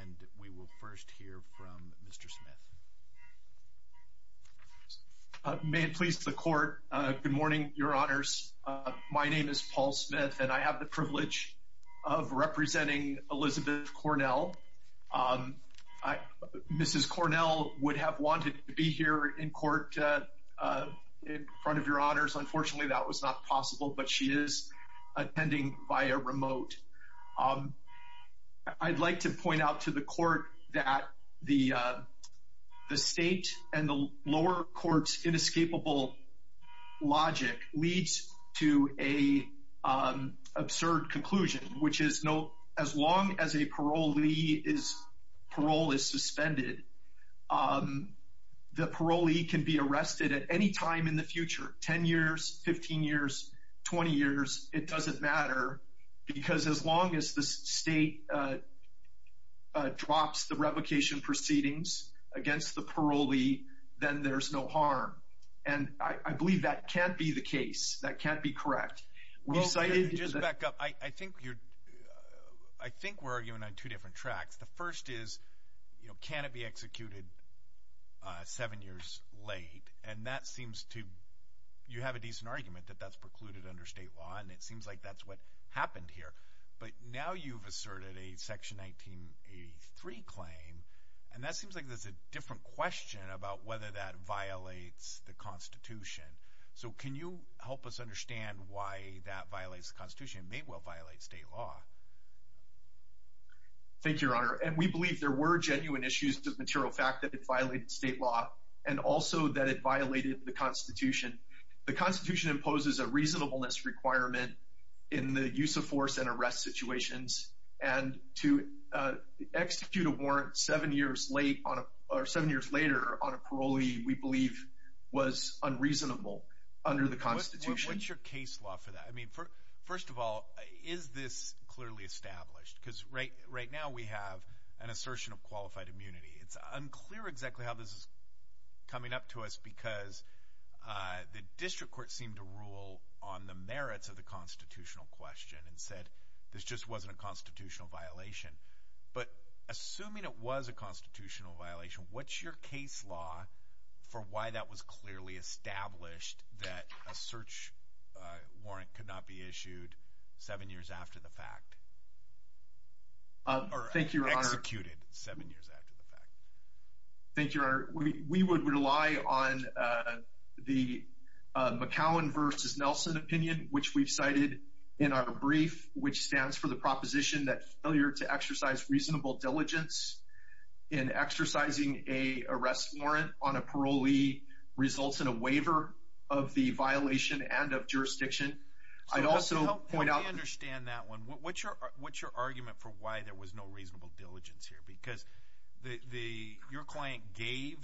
and we will first hear from Mr. Smith. May it please the court. Good morning, your honors. My name is Paul Smith and I have the privilege of representing Elizabeth Cornel. Mrs. Cornel would have wanted to be here in court in front of your honors. Unfortunately that was not possible but she is attending via remote. I'd like to point out to the court that the the state and the lower courts inescapable logic leads to a absurd conclusion which is no as long as a parolee is parole is suspended the parolee can be arrested at any time in the future 10 years 15 years 20 years it doesn't matter because as long as the state drops the revocation proceedings against the parolee then there's no harm and I believe that can't be the case that can't be correct. I think we're arguing on two different tracks the first is you know can it be executed seven years late and that seems to you have a decent argument that that's precluded under state law and it seems like that's what happened here but now you've asserted a section 1983 claim and that seems like there's a different question about whether that violates the Constitution so can you help us understand why that violates Constitution may well violate state law. Thank you your honor and we believe there were genuine issues to the material fact that it violated state law and also that it violated the Constitution. The Constitution imposes a reasonableness requirement in the use of force and arrest situations and to execute a warrant seven years late on a seven years later on a parolee we believe was unreasonable under the Constitution. What's your case law for I mean for first of all is this clearly established because right right now we have an assertion of qualified immunity it's unclear exactly how this is coming up to us because the district court seemed to rule on the merits of the constitutional question and said this just wasn't a constitutional violation but assuming it was a constitutional violation what's your case law for why that was clearly established that a search warrant could not be issued seven years after the fact. Thank you your honor. We would rely on the McCowan versus Nelson opinion which we've cited in our brief which stands for the proposition that failure to exercise reasonable diligence in results in a waiver of the violation and of jurisdiction. I'd also point out understand that one what's your what's your argument for why there was no reasonable diligence here because the your client gave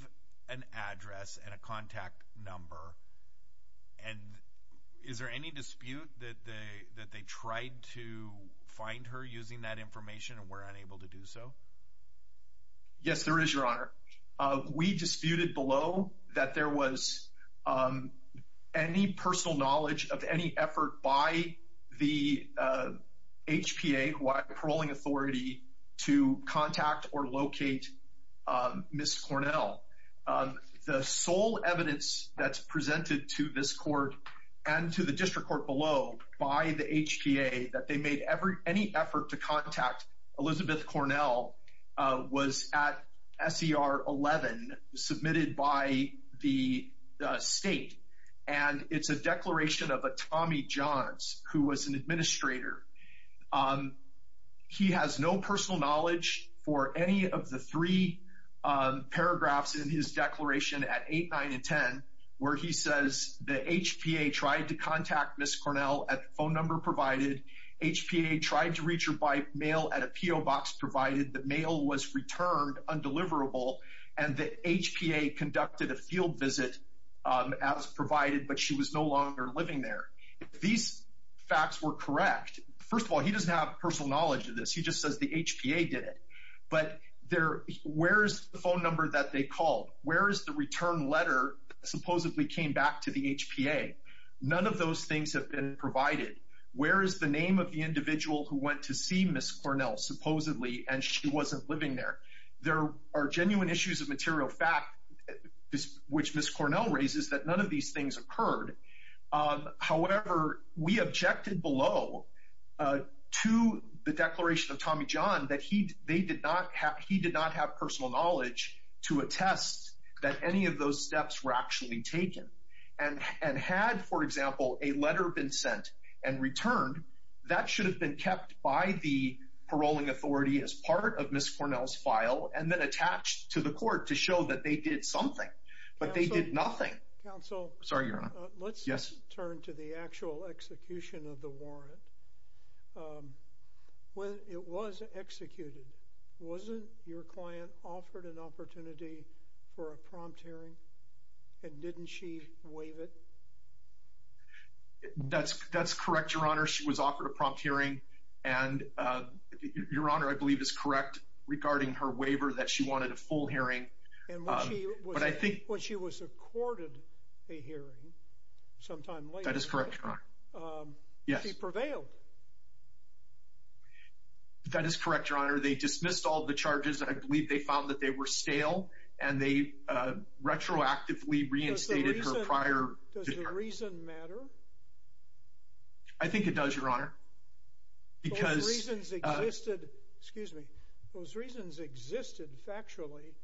an address and a contact number and is there any dispute that they that they tried to find her using that information and were unable to do so. Yes there is your honor. We disputed below that there was any personal knowledge of any effort by the HPA paroling authority to contact or locate Ms. Cornell. The sole evidence that's presented to this court and to the district court below by the HPA that they made ever any effort to contact Elizabeth Cornell was at SER 11 submitted by the state and it's a declaration of a Tommy Johns who was an administrator. He has no personal knowledge for any of the three paragraphs in his declaration at eight nine and ten where he says the HPA tried to contact Ms. Cornell at the phone number provided HPA tried to reach her by mail at a PO box provided the mail was returned undeliverable and the HPA conducted a field visit as provided but she was no longer living there. These facts were correct. First of all he doesn't have personal knowledge of this he just says the HPA did it but there where is the phone number that they called where is the return letter supposedly came back to the HPA none of those things have been provided where is the name of the individual who went to see Ms. Cornell supposedly and she wasn't living there. There are genuine issues of material fact which Ms. Cornell raises that none of these things occurred however we objected below to the declaration of Tommy John that he they did not have he any of those steps were actually taken and and had for example a letter been sent and returned that should have been kept by the paroling authority as part of Ms. Cornell's file and then attached to the court to show that they did something but they did nothing. Counsel. Sorry your honor. Yes. Let's turn to the actual execution of the warrant. When it was executed wasn't your client offered an prompt hearing and didn't she waive it? That's that's correct your honor she was offered a prompt hearing and your honor I believe is correct regarding her waiver that she wanted a full hearing but I think. When she was accorded a hearing sometime later. That is correct your honor. Yes. She prevailed. That is correct your honor they dismissed all the charges and I believe they found that they were stale and they retroactively reinstated her prior. Does the reason matter? I think it does your honor because. Those reasons existed excuse me those reasons existed factually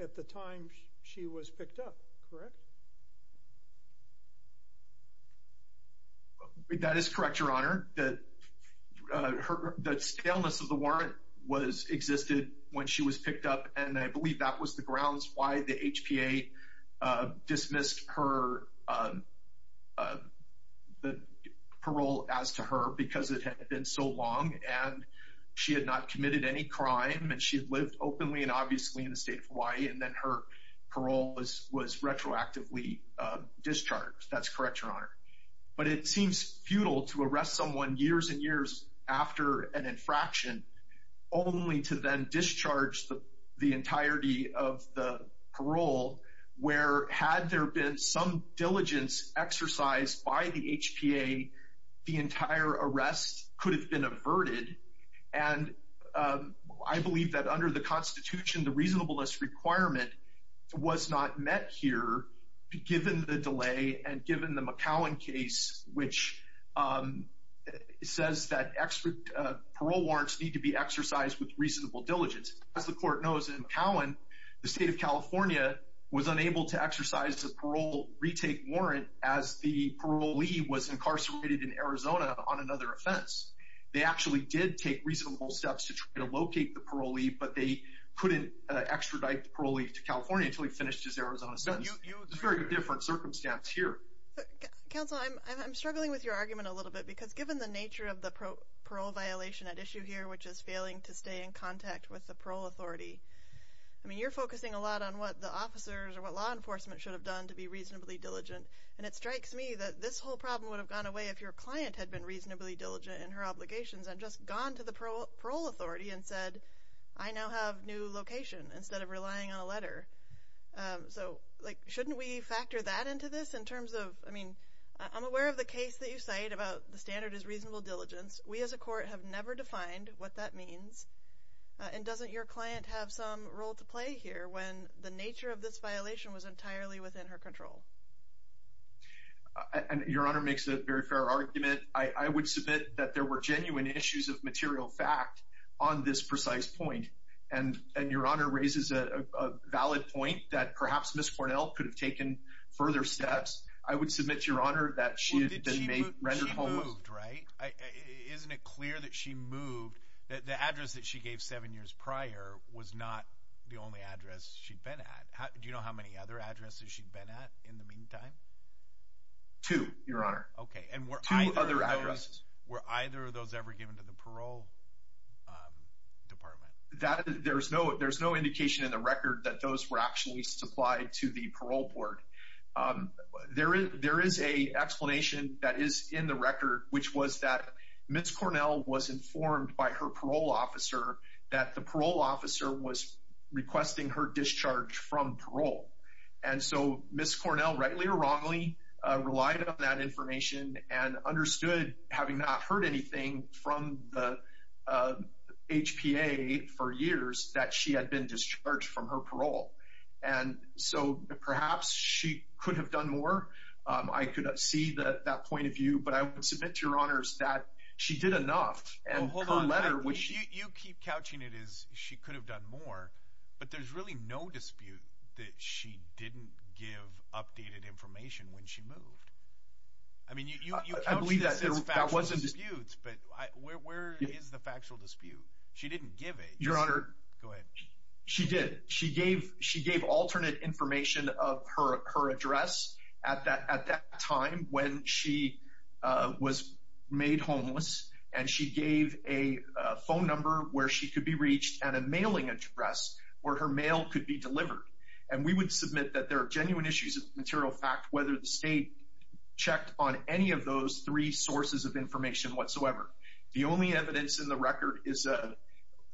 at the time she was picked up correct? That is correct your honor that her that staleness of the warrant was existed when she was picked up and I believe that was the grounds why the HPA dismissed her the parole as to her because it had been so long and she had not committed any crime and she had lived openly and obviously in the state of Hawaii and then her parole was was retroactively discharged. That's correct your honor. But it seems futile to arrest someone years and years after an infraction only to then discharge the the entirety of the parole where had there been some diligence exercised by the HPA the entire arrest could have been averted and I believe that under the Constitution the reasonableness requirement was not met here given the Cowan case which says that extra parole warrants need to be exercised with reasonable diligence as the court knows in Cowan the state of California was unable to exercise the parole retake warrant as the parolee was incarcerated in Arizona on another offense they actually did take reasonable steps to try to locate the parolee but they couldn't extradite the parolee to Council I'm struggling with your argument a little bit because given the nature of the parole violation at issue here which is failing to stay in contact with the parole authority I mean you're focusing a lot on what the officers or what law enforcement should have done to be reasonably diligent and it strikes me that this whole problem would have gone away if your client had been reasonably diligent in her obligations and just gone to the parole authority and said I now have new location instead of relying on a letter so like shouldn't we factor that into this in terms of I mean I'm aware of the case that you cite about the standard is reasonable diligence we as a court have never defined what that means and doesn't your client have some role to play here when the nature of this violation was entirely within her control and your honor makes a very fair argument I would submit that there were genuine issues of material fact on this precise point and and your honor raises a valid point that perhaps miss Cornell could have taken further steps I would submit your honor that she moved right isn't it clear that she moved that the address that she gave seven years prior was not the only address she'd been at how do you know how many other addresses she'd been at in the meantime to your honor okay and we're either address where either of those ever given to the parole department that there's no there's no indication in the record that those were actually supplied to the parole board there is there is a explanation that is in the record which was that miss Cornell was informed by her parole officer that the parole officer was requesting her discharge from parole and so miss Cornell rightly or wrongly relied on that information and understood having not heard anything from the HPA for years that she had been discharged from her parole and so perhaps she could have done more I could have see that that point of view but I would submit to your honors that she did enough and hold on letter which you keep couching it is she could have done more but there's really no dispute that she didn't give updated information when she moved I mean you believe that there was a dispute but where is the factual dispute she didn't give it your honor she did she gave she gave alternate information of her her address at that at that time when she was made homeless and she gave a phone number where she could be reached and a mailing address where her mail could be delivered and we would submit that there are genuine issues of material fact whether the state checked on any of those three sources of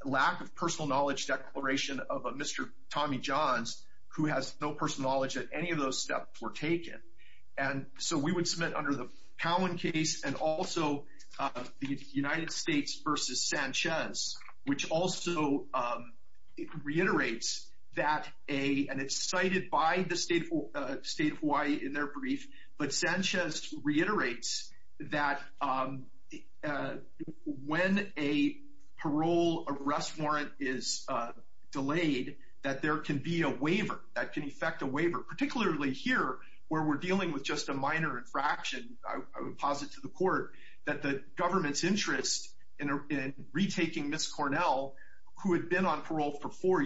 lack of personal knowledge declaration of a mr. Tommy John's who has no personal knowledge that any of those steps were taken and so we would submit under the Cowan case and also the United States versus Sanchez which also reiterates that a and it's cited by the stateful state of Hawaii in their brief but Sanchez reiterates that when a parole arrest warrant is delayed that there can be a waiver that can affect a waiver particularly here where we're dealing with just a minor infraction I would posit to the court that the government's interest in retaking miss Cornell who had been on parole for four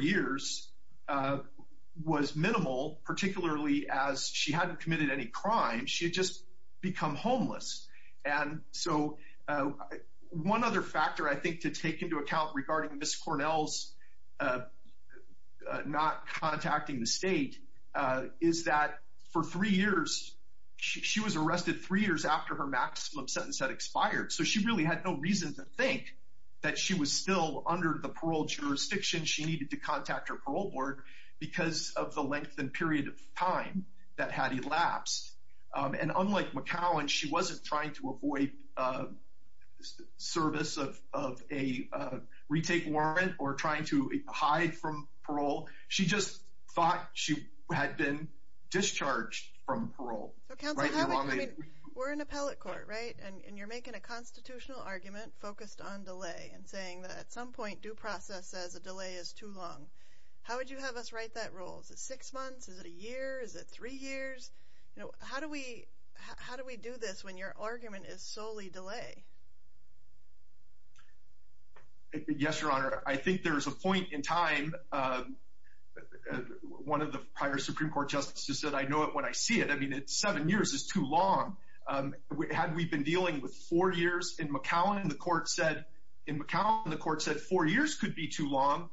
was minimal particularly as she hadn't committed any crime she had just become homeless and so one other factor I think to take into account regarding miss Cornell's not contacting the state is that for three years she was arrested three years after her maximum sentence had expired so she really had no reason to think that she was still under the parole jurisdiction she needed to parole board because of the length and period of time that had elapsed and unlike McCowan she wasn't trying to avoid service of a retake warrant or trying to hide from parole she just thought she had been discharged from parole we're in appellate court right and you're making a constitutional argument focused on delay and saying that at some point due process as a how would you have us write that rules six months is it a year is it three years how do we how do we do this when your argument is solely delay yes your honor I think there's a point in time one of the prior Supreme Court justices said I know it when I see it I mean it's seven years is too long we had we've been dealing with four years in McCowan and the court said in McCowan the court said four years could be too long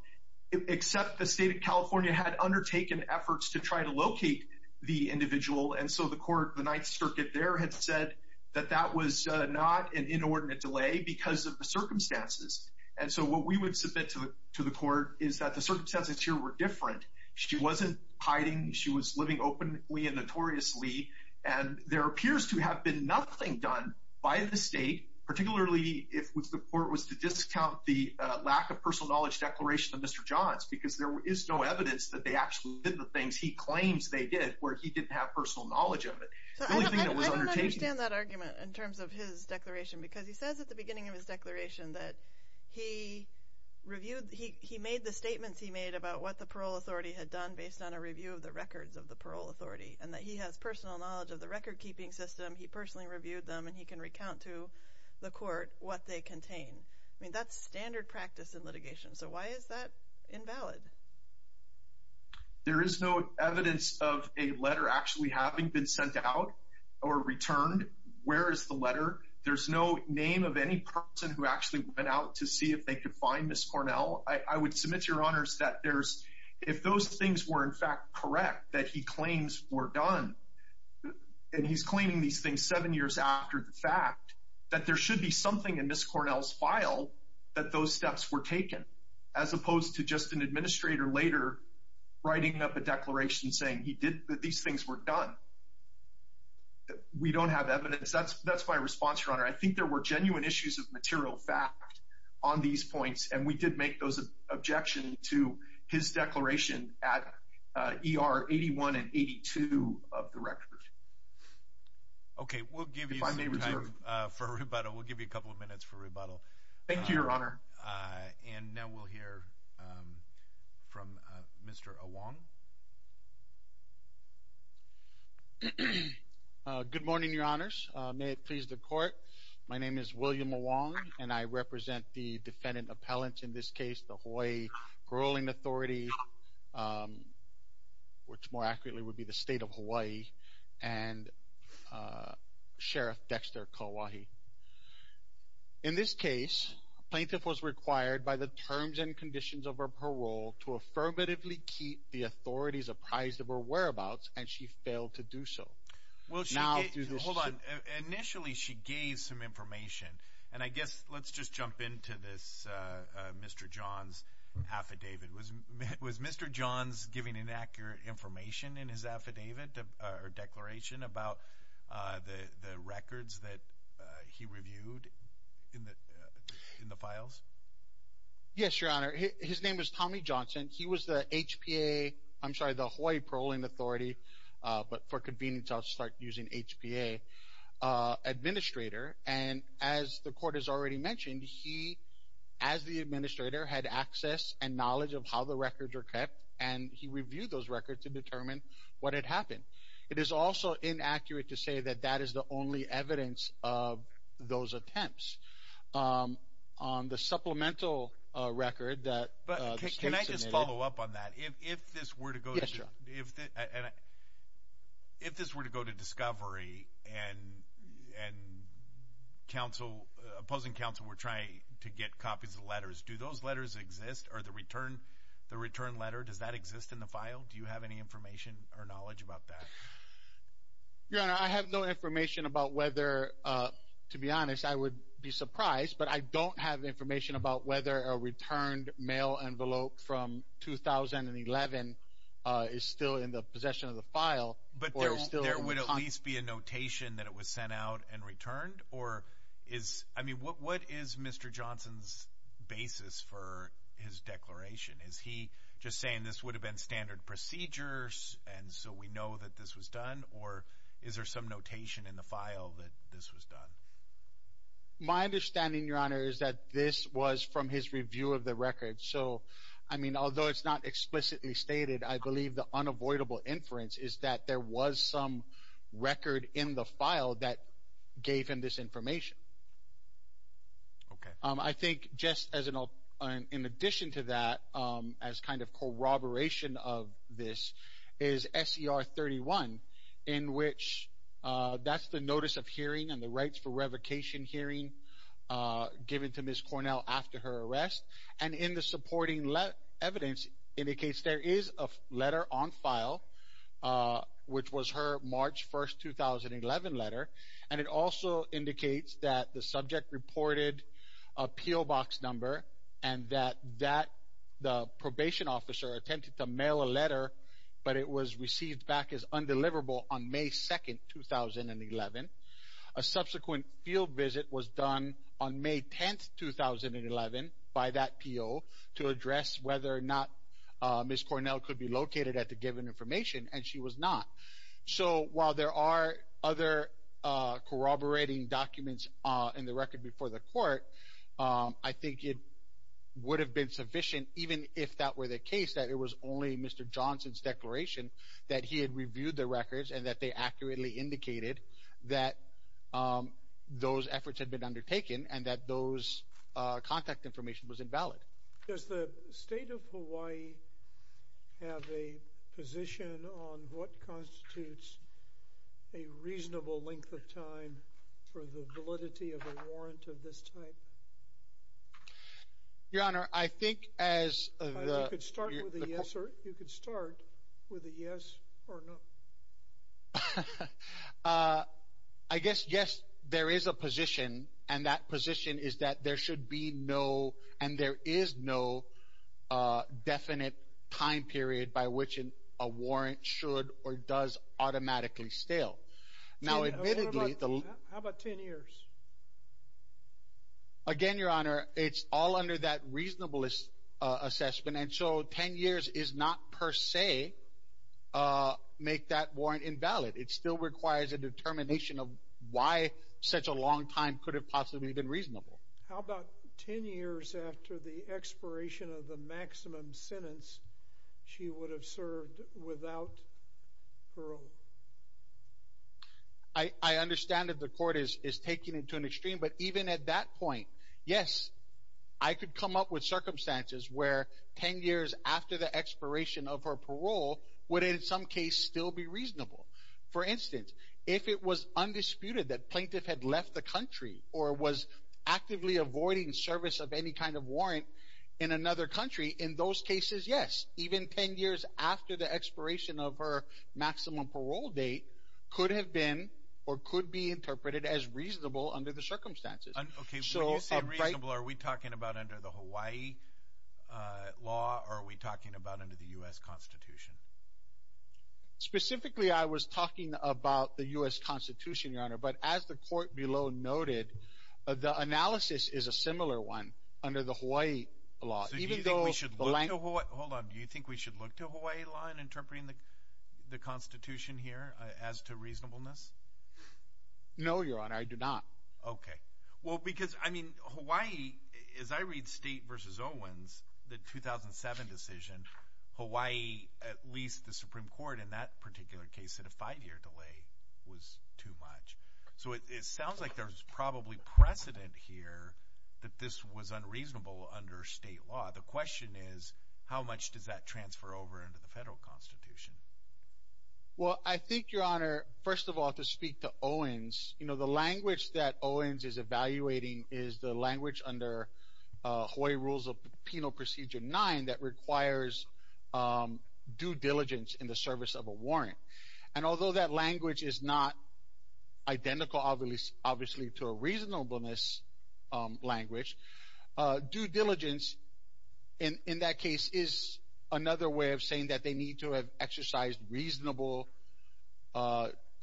except the state of California had undertaken efforts to try to locate the individual and so the court the Ninth Circuit there had said that that was not an inordinate delay because of the circumstances and so what we would submit to the court is that the circumstances here were different she wasn't hiding she was living openly and notoriously and there appears to have been nothing done by the state particularly if the court was to discount the lack of personal knowledge declaration of mr. Johns because there is no evidence that they actually did the things he claims they did where he didn't have personal knowledge of it in terms of his declaration because he says at the beginning of his declaration that he reviewed he made the statements he made about what the parole authority had done based on a review of the records of the parole authority and that he has personal knowledge of the record-keeping system he personally reviewed them and he can recount to the court what they contain I mean that's standard practice in litigation so why is that invalid there is no evidence of a letter actually having been sent out or returned where is the letter there's no name of any person who actually went out to see if they could find this Cornell I would submit your honors that there's if those things were in fact correct that he claims were done and he's claiming these things seven years after the fact that there should be something in this Cornell's file that those steps were taken as opposed to just an administrator later writing up a declaration saying he did that these things were done we don't have evidence that's that's my response your honor I think there were genuine issues of material fact on these points and we did make those objections to his declaration at er 81 and 82 of the record okay we'll give you time for a rebuttal we'll give you a couple of minutes for rebuttal thank you your honor and now we'll hear from mr. along good morning your honors may it please the court my name is William along and I represent the defendant appellant in this case the which more accurately would be the state of Hawaii and sheriff Dexter Kauai in this case plaintiff was required by the terms and conditions of her parole to affirmatively keep the authorities apprised of her whereabouts and she failed to do so well she now initially she gave some information and I guess let's just jump into this mr. John's affidavit was it was mr. John's giving inaccurate information in his affidavit or declaration about the records that he reviewed in the in the files yes your honor his name is Tommy Johnson he was the HPA I'm sorry the Hawaii Paroling Authority but for convenience I'll start using HPA administrator and as the court has already mentioned he as the administrator had access and knowledge of how the records are kept and he reviewed those records to determine what had happened it is also inaccurate to say that that is the only evidence of those attempts on the supplemental record that but can I just follow up on that if this were to go to if this were to go to discovery and and council opposing council we're trying to get copies of letters do those letters exist or the return the return letter does that exist in the file do you have any information or knowledge about that your honor I have no information about whether to be honest I would be surprised but I don't have information about whether a returned mail envelope from 2011 is still in the possession of the file but there would at least be a notation that it was sent out and returned or is I mean what what is mr. Johnson's basis for his declaration is he just saying this would have been standard procedures and so we know that this was done or is there some notation in the file that this was done my understanding your honor is that this was from his review of the record so I mean although it's not explicitly stated I believe the unavoidable inference is that there was some record in the file that gave him this information I think just as an in addition to that as kind of corroboration of this is SER 31 in which that's the notice of hearing and rights for revocation hearing given to miss Cornell after her arrest and in the supporting let evidence indicates there is a letter on file which was her March 1st 2011 letter and it also indicates that the subject reported appeal box number and that that the probation officer attempted to mail a letter but it was received back as undeliverable on May 2nd 2011 a subsequent field visit was done on May 10th 2011 by that appeal to address whether or not miss Cornell could be located at the given information and she was not so while there are other corroborating documents in the record before the court I think it would have been sufficient even if that were the case that it was only mr. Johnson's declaration that he had reviewed the records and that they accurately indicated that those efforts had been undertaken and that those contact information was invalid does the state of Hawaii have a position on what constitutes a reasonable length of time for the validity of a warrant of this your honor I think as you could start with a yes or no I guess yes there is a position and that position is that there should be no and there is no definite time period by which in a warrant should or does automatically stale now admittedly how about 10 years again your honor it's all under that reasonableness assessment and so 10 years is not per se make that warrant invalid it still requires a determination of why such a long time could have possibly been reasonable how about 10 years after the expiration of the maximum sentence she understand that the court is taking it to an extreme but even at that point yes I could come up with circumstances where 10 years after the expiration of her parole would in some case still be reasonable for instance if it was undisputed that plaintiff had left the country or was actively avoiding service of any kind of warrant in another country in those cases yes even 10 years after the expiration of her maximum parole date could have been or could be interpreted as reasonable under the circumstances are we talking about under the Hawaii law are we talking about under the US Constitution specifically I was talking about the US Constitution your honor but as the court below noted the analysis is a similar one under the Hawaii law even though we should hold on do you think we should look to Hawaii law in interpreting the Constitution here as to reasonableness no your honor I do not okay well because I mean Hawaii is I read state versus Owens the 2007 decision Hawaii at least the Supreme Court in that particular case at a five-year delay was too much so it sounds like there's probably precedent here that this was unreasonable under state law the question is how much does that transfer over into the federal Constitution well I think your honor first of all to speak to Owens you know the language that Owens is evaluating is the language under Hawaii rules of Penal Procedure 9 that requires due diligence in the service of a warrant and although that language is not identical obvious obviously to a reasonableness language due diligence in in that case is another way of saying that they need to have exercised reasonable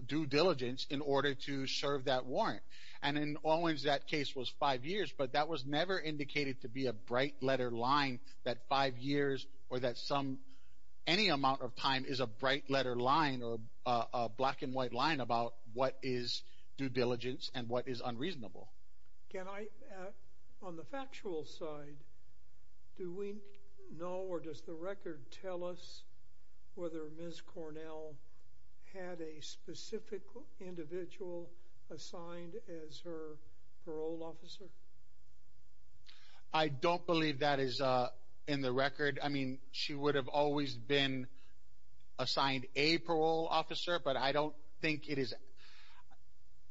due diligence in order to serve that warrant and in Owens that case was five years but that was never indicated to be a bright letter line that five years or that some any amount of time is a bright letter line or a black-and-white line about what is due diligence and what is factual side do we know or does the record tell us whether Miss Cornell had a specific individual assigned as her parole officer I don't believe that is in the record I mean she would have always been assigned a parole officer but I don't think it is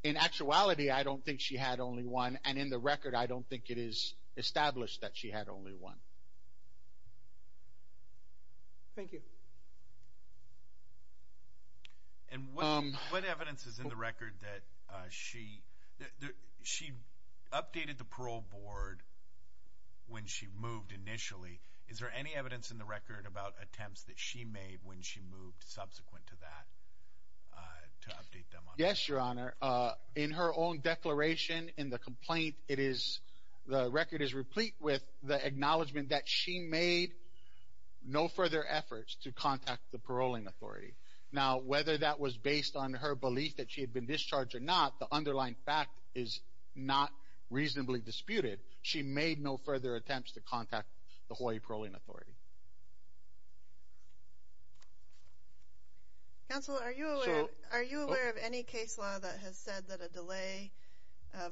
in actuality I don't think she had only one and in the established that she had only one thank you and what evidence is in the record that she she updated the parole board when she moved initially is there any evidence in the record about attempts that she made when she moved subsequent to that to update them yes your honor in her own declaration in the complaint it is the record is replete with the acknowledgement that she made no further efforts to contact the paroling authority now whether that was based on her belief that she had been discharged or not the underlying fact is not reasonably disputed she made no further attempts to contact the Hawaii paroling authority counsel are you are you aware of any case law that has said that a delay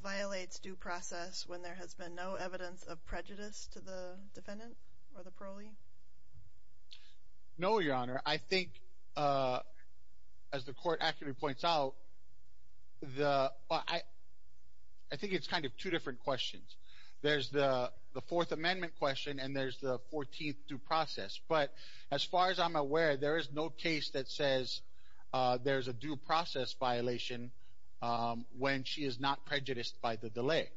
violates due process when there has been no evidence of prejudice to the defendant or the parolee no your honor I think as the court actually points out the I I think it's kind of two different questions there's the the Fourth Amendment question and there's the 14th due process but as far as I'm aware there is no case that says there's a due process violation when she is not prejudiced by the delay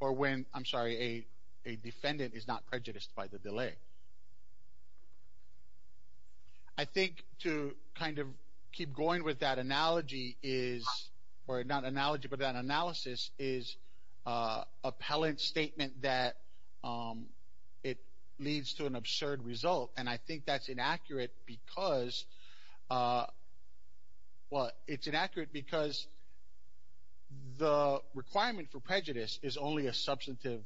or when I'm sorry a defendant is not prejudiced by the delay I think to kind of keep going with that analogy is or not analogy but that analysis is appellant statement that it leads to an absurd result and I think that's inaccurate because what it's inaccurate because the requirement for prejudice is only a substantive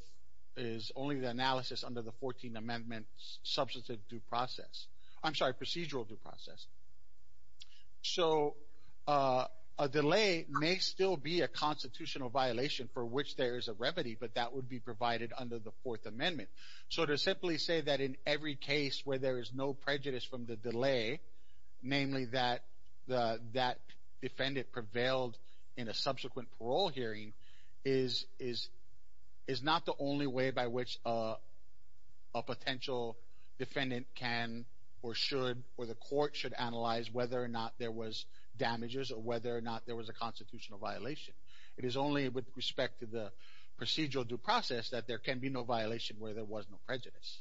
is only the analysis under the 14th Amendment substantive due process I'm sorry procedural due process so a delay may still be a constitutional violation for which there is a remedy but that would be provided under the Fourth Amendment so to simply say that in every case where there is no prejudice from the delay namely that the that defendant prevailed in a subsequent parole hearing is is is not the only way by which a potential defendant can or should or the court should analyze whether or not there was damages or whether or not there was a constitutional violation it is only with respect to the procedural due process that there can be no violation where there was no prejudice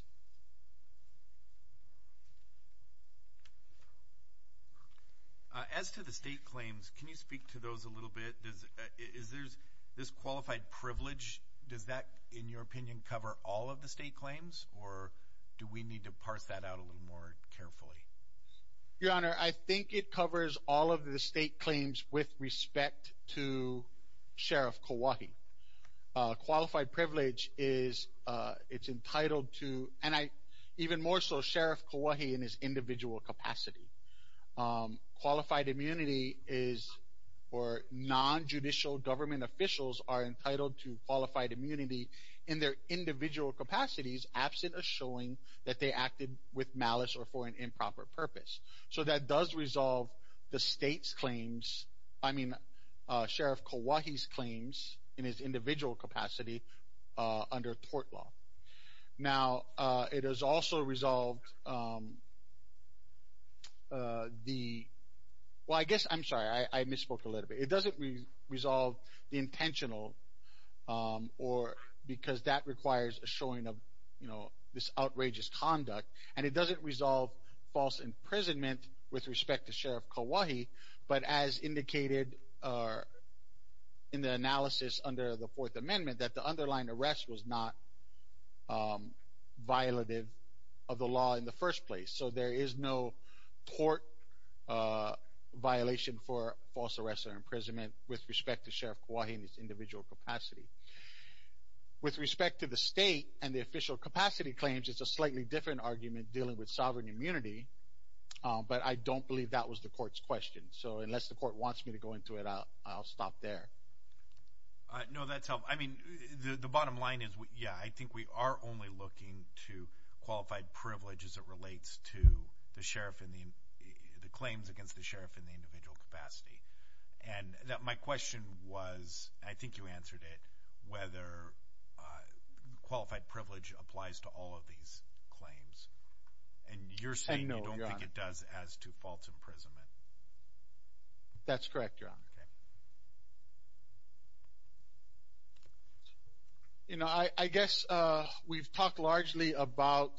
as to the state claims can you speak to those a little bit is there's this qualified privilege does that in your opinion cover all of the state claims or do we need to parse that out a little more carefully your honor I think it covers all of the state claims with respect to Sheriff Kauai qualified privilege is it's entitled to and I even more so Sheriff Kauai in his individual capacity qualified immunity is or non-judicial government officials are that they acted with malice or for an improper purpose so that does resolve the state's claims I mean Sheriff Kauai's claims in his individual capacity under tort law now it is also resolved the well I guess I'm sorry I misspoke a little bit it doesn't resolve the intentional or because that requires a showing of you know this outrageous conduct and it doesn't resolve false imprisonment with respect to Sheriff Kauai but as indicated in the analysis under the Fourth Amendment that the underlying arrest was not violative of the law in the first place so there is no court violation for false arrest or imprisonment with respect to Sheriff Kauai in his individual capacity with respect to the state and the official capacity claims it's a slightly different argument dealing with sovereign immunity but I don't believe that was the court's question so unless the court wants me to go into it out I'll stop there no that's help I mean the bottom line is what yeah I think we are only looking to qualified privilege as it relates to the sheriff in the the claims against the sheriff in the individual capacity and that my question was I think you answered it whether qualified privilege applies to all of these claims and you're saying it does as to false imprisonment that's correct you're on okay you know I I guess we've talked largely about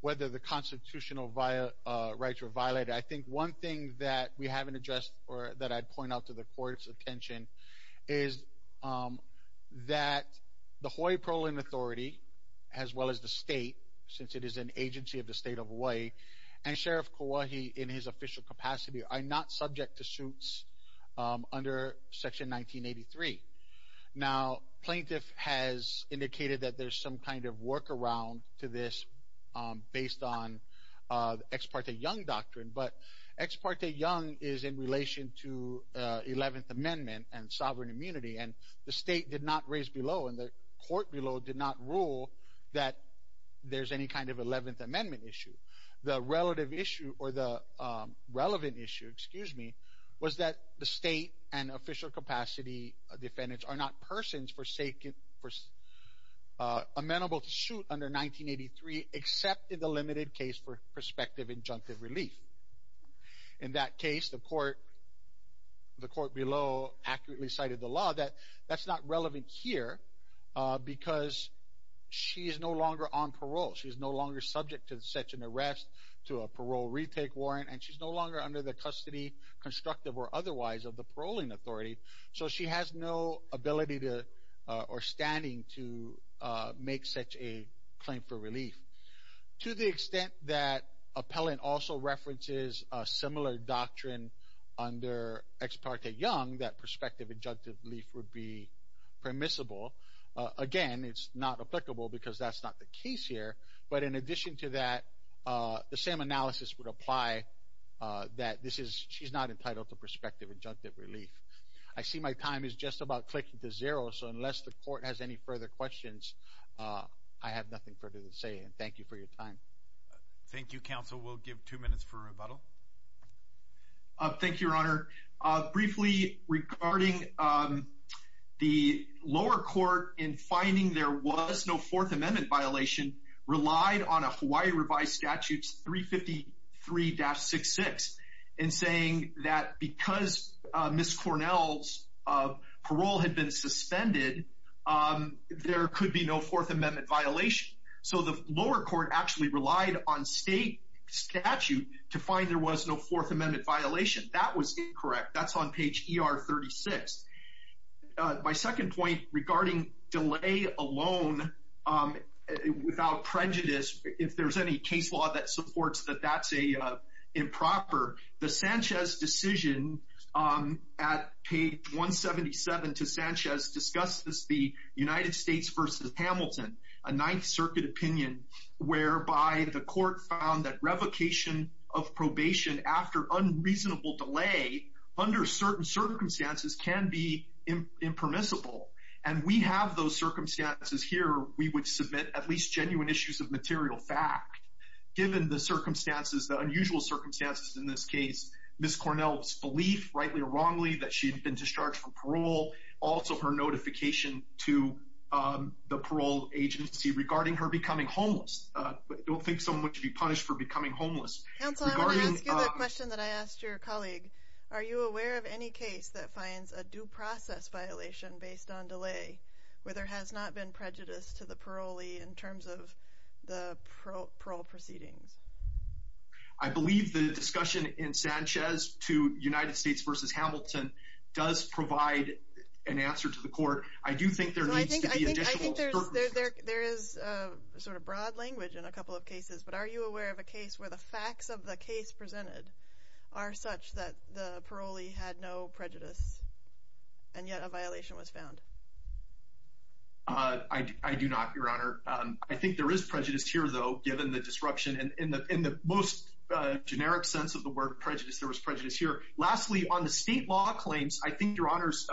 whether the constitutional via rights were violated I think one thing that we haven't addressed or that I'd point out to the court's attention is that the Hawaii Prolin Authority as well as the state since it is an agency of the state of Hawaii and Sheriff Kauai in his official capacity are not subject to suits under section 1983 now plaintiff has indicated that there's some kind of workaround to this based on ex parte young doctrine but ex parte young is in relation to Eleventh Amendment and sovereign immunity and the state did not raise below and the court below did not rule that there's any kind of Eleventh Amendment issue the relative issue or the relevant issue excuse me was that the state and official capacity defendants are not persons forsaken amenable to shoot under 1983 except in the limited case for prospective injunctive relief in that case the court the court below accurately cited the law that that's not relevant here because she is no longer on parole she's no longer subject to such an arrest to a parole retake warrant and she's no longer under the custody constructive or otherwise of the paroling authority so she has no ability to or standing to make such a claim for relief to the extent that appellant also references a similar doctrine under ex parte young that prospective injunctive relief would be permissible again it's not applicable because that's not the case here but in addition to that the same analysis would apply that this is she's not entitled to prospective injunctive relief I see my time is just about clicking to zero so unless the court has any further questions I have nothing further to say and thank you for your time Thank You counsel we'll give two minutes for rebuttal thank you your honor briefly regarding the lower court in finding there was no Fourth Amendment violation relied on a Hawaii revised statutes 353-66 and saying that because miss Cornell's of parole had been suspended there could be no Fourth Amendment violation so the lower court actually relied on state statute to find there was no Fourth Amendment violation that was incorrect that's on page er 36 my second point regarding delay alone without prejudice if there's any case that that's a improper the Sanchez decision at page 177 to Sanchez discuss this the United States versus Hamilton a Ninth Circuit opinion whereby the court found that revocation of probation after unreasonable delay under certain circumstances can be impermissible and we have those circumstances here we would submit at least genuine issues of material fact given the circumstances the unusual circumstances in this case miss Cornell's belief rightly or wrongly that she'd been discharged from parole also her notification to the parole agency regarding her becoming homeless don't think someone should be punished for becoming homeless question that I asked your colleague are you aware of any case that finds a due process violation based on delay where there has not been prejudice to the parolee in terms of the parole proceedings I believe the discussion in Sanchez to United States versus Hamilton does provide an answer to the court I do think there is sort of broad language in a couple of cases but are you aware of a case where the facts of the case presented are such that the parolee had no prejudice and yet a violation was I do not your honor I think there is prejudice here though given the disruption and in the in the most generic sense of the word prejudice there was prejudice here lastly on the state law claims I think your honors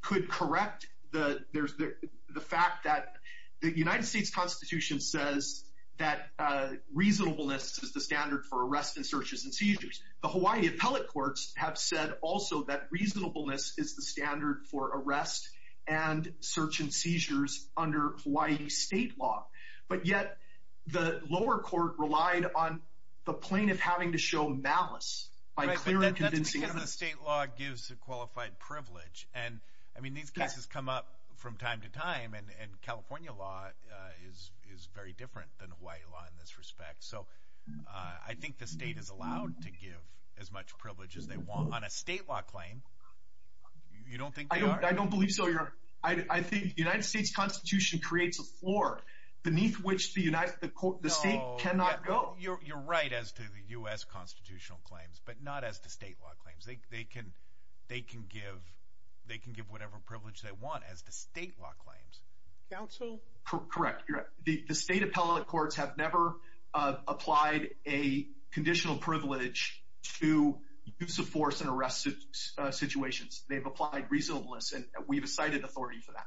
could correct the there's the fact that the United States Constitution says that reasonableness is the standard for arrest and searches and seizures the Hawaii appellate courts have said also that reasonableness is the standard for arrest and search and seizures under Hawaii state law but yet the lower court relied on the plane of having to show malice by clear and convincing of the state law gives a qualified privilege and I mean these cases come up from time to time and California law is is very different than Hawaii law in this respect so I think the state is allowed to give as much privilege as they want on a state law claim you don't think I don't believe so you're I think the United States Constitution creates a floor beneath which the United the court the state cannot go you're right as to the u.s. constitutional claims but not as the state law claims they can they can give they can give whatever privilege they want as the state law claims counsel correct the state appellate courts have never applied a conditional privilege to use of force and arrest situations they've applied reasonableness and we've cited authority for that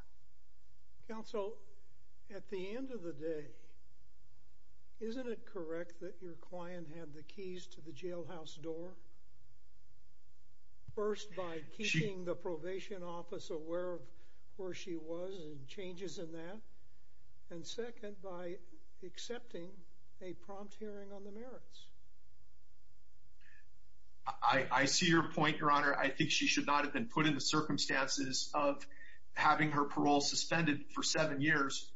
counsel at the end of the day isn't it correct that your client had the keys to the jailhouse door first by keeping the probation office aware of where she was and changes in that and second by accepting a prompt hearing on the merits I I see your point your honor I think she should not have been put in the circumstances of having her parole suspended for seven years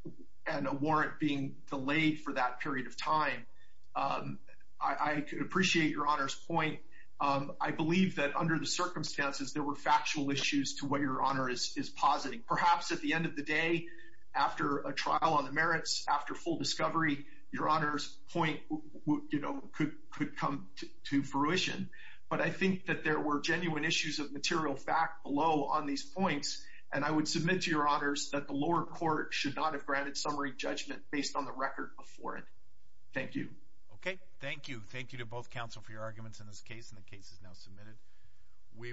and a warrant being delayed for that period of time I appreciate your honors point I believe that under the circumstances there were factual issues to what your honor is is perhaps at the end of the day after a trial on the merits after full discovery your honors point you know could could come to fruition but I think that there were genuine issues of material fact below on these points and I would submit to your honors that the lower court should not have granted summary judgment based on the record before it thank you okay thank you thank you to both counsel for your arguments in this case in the case is now submitted we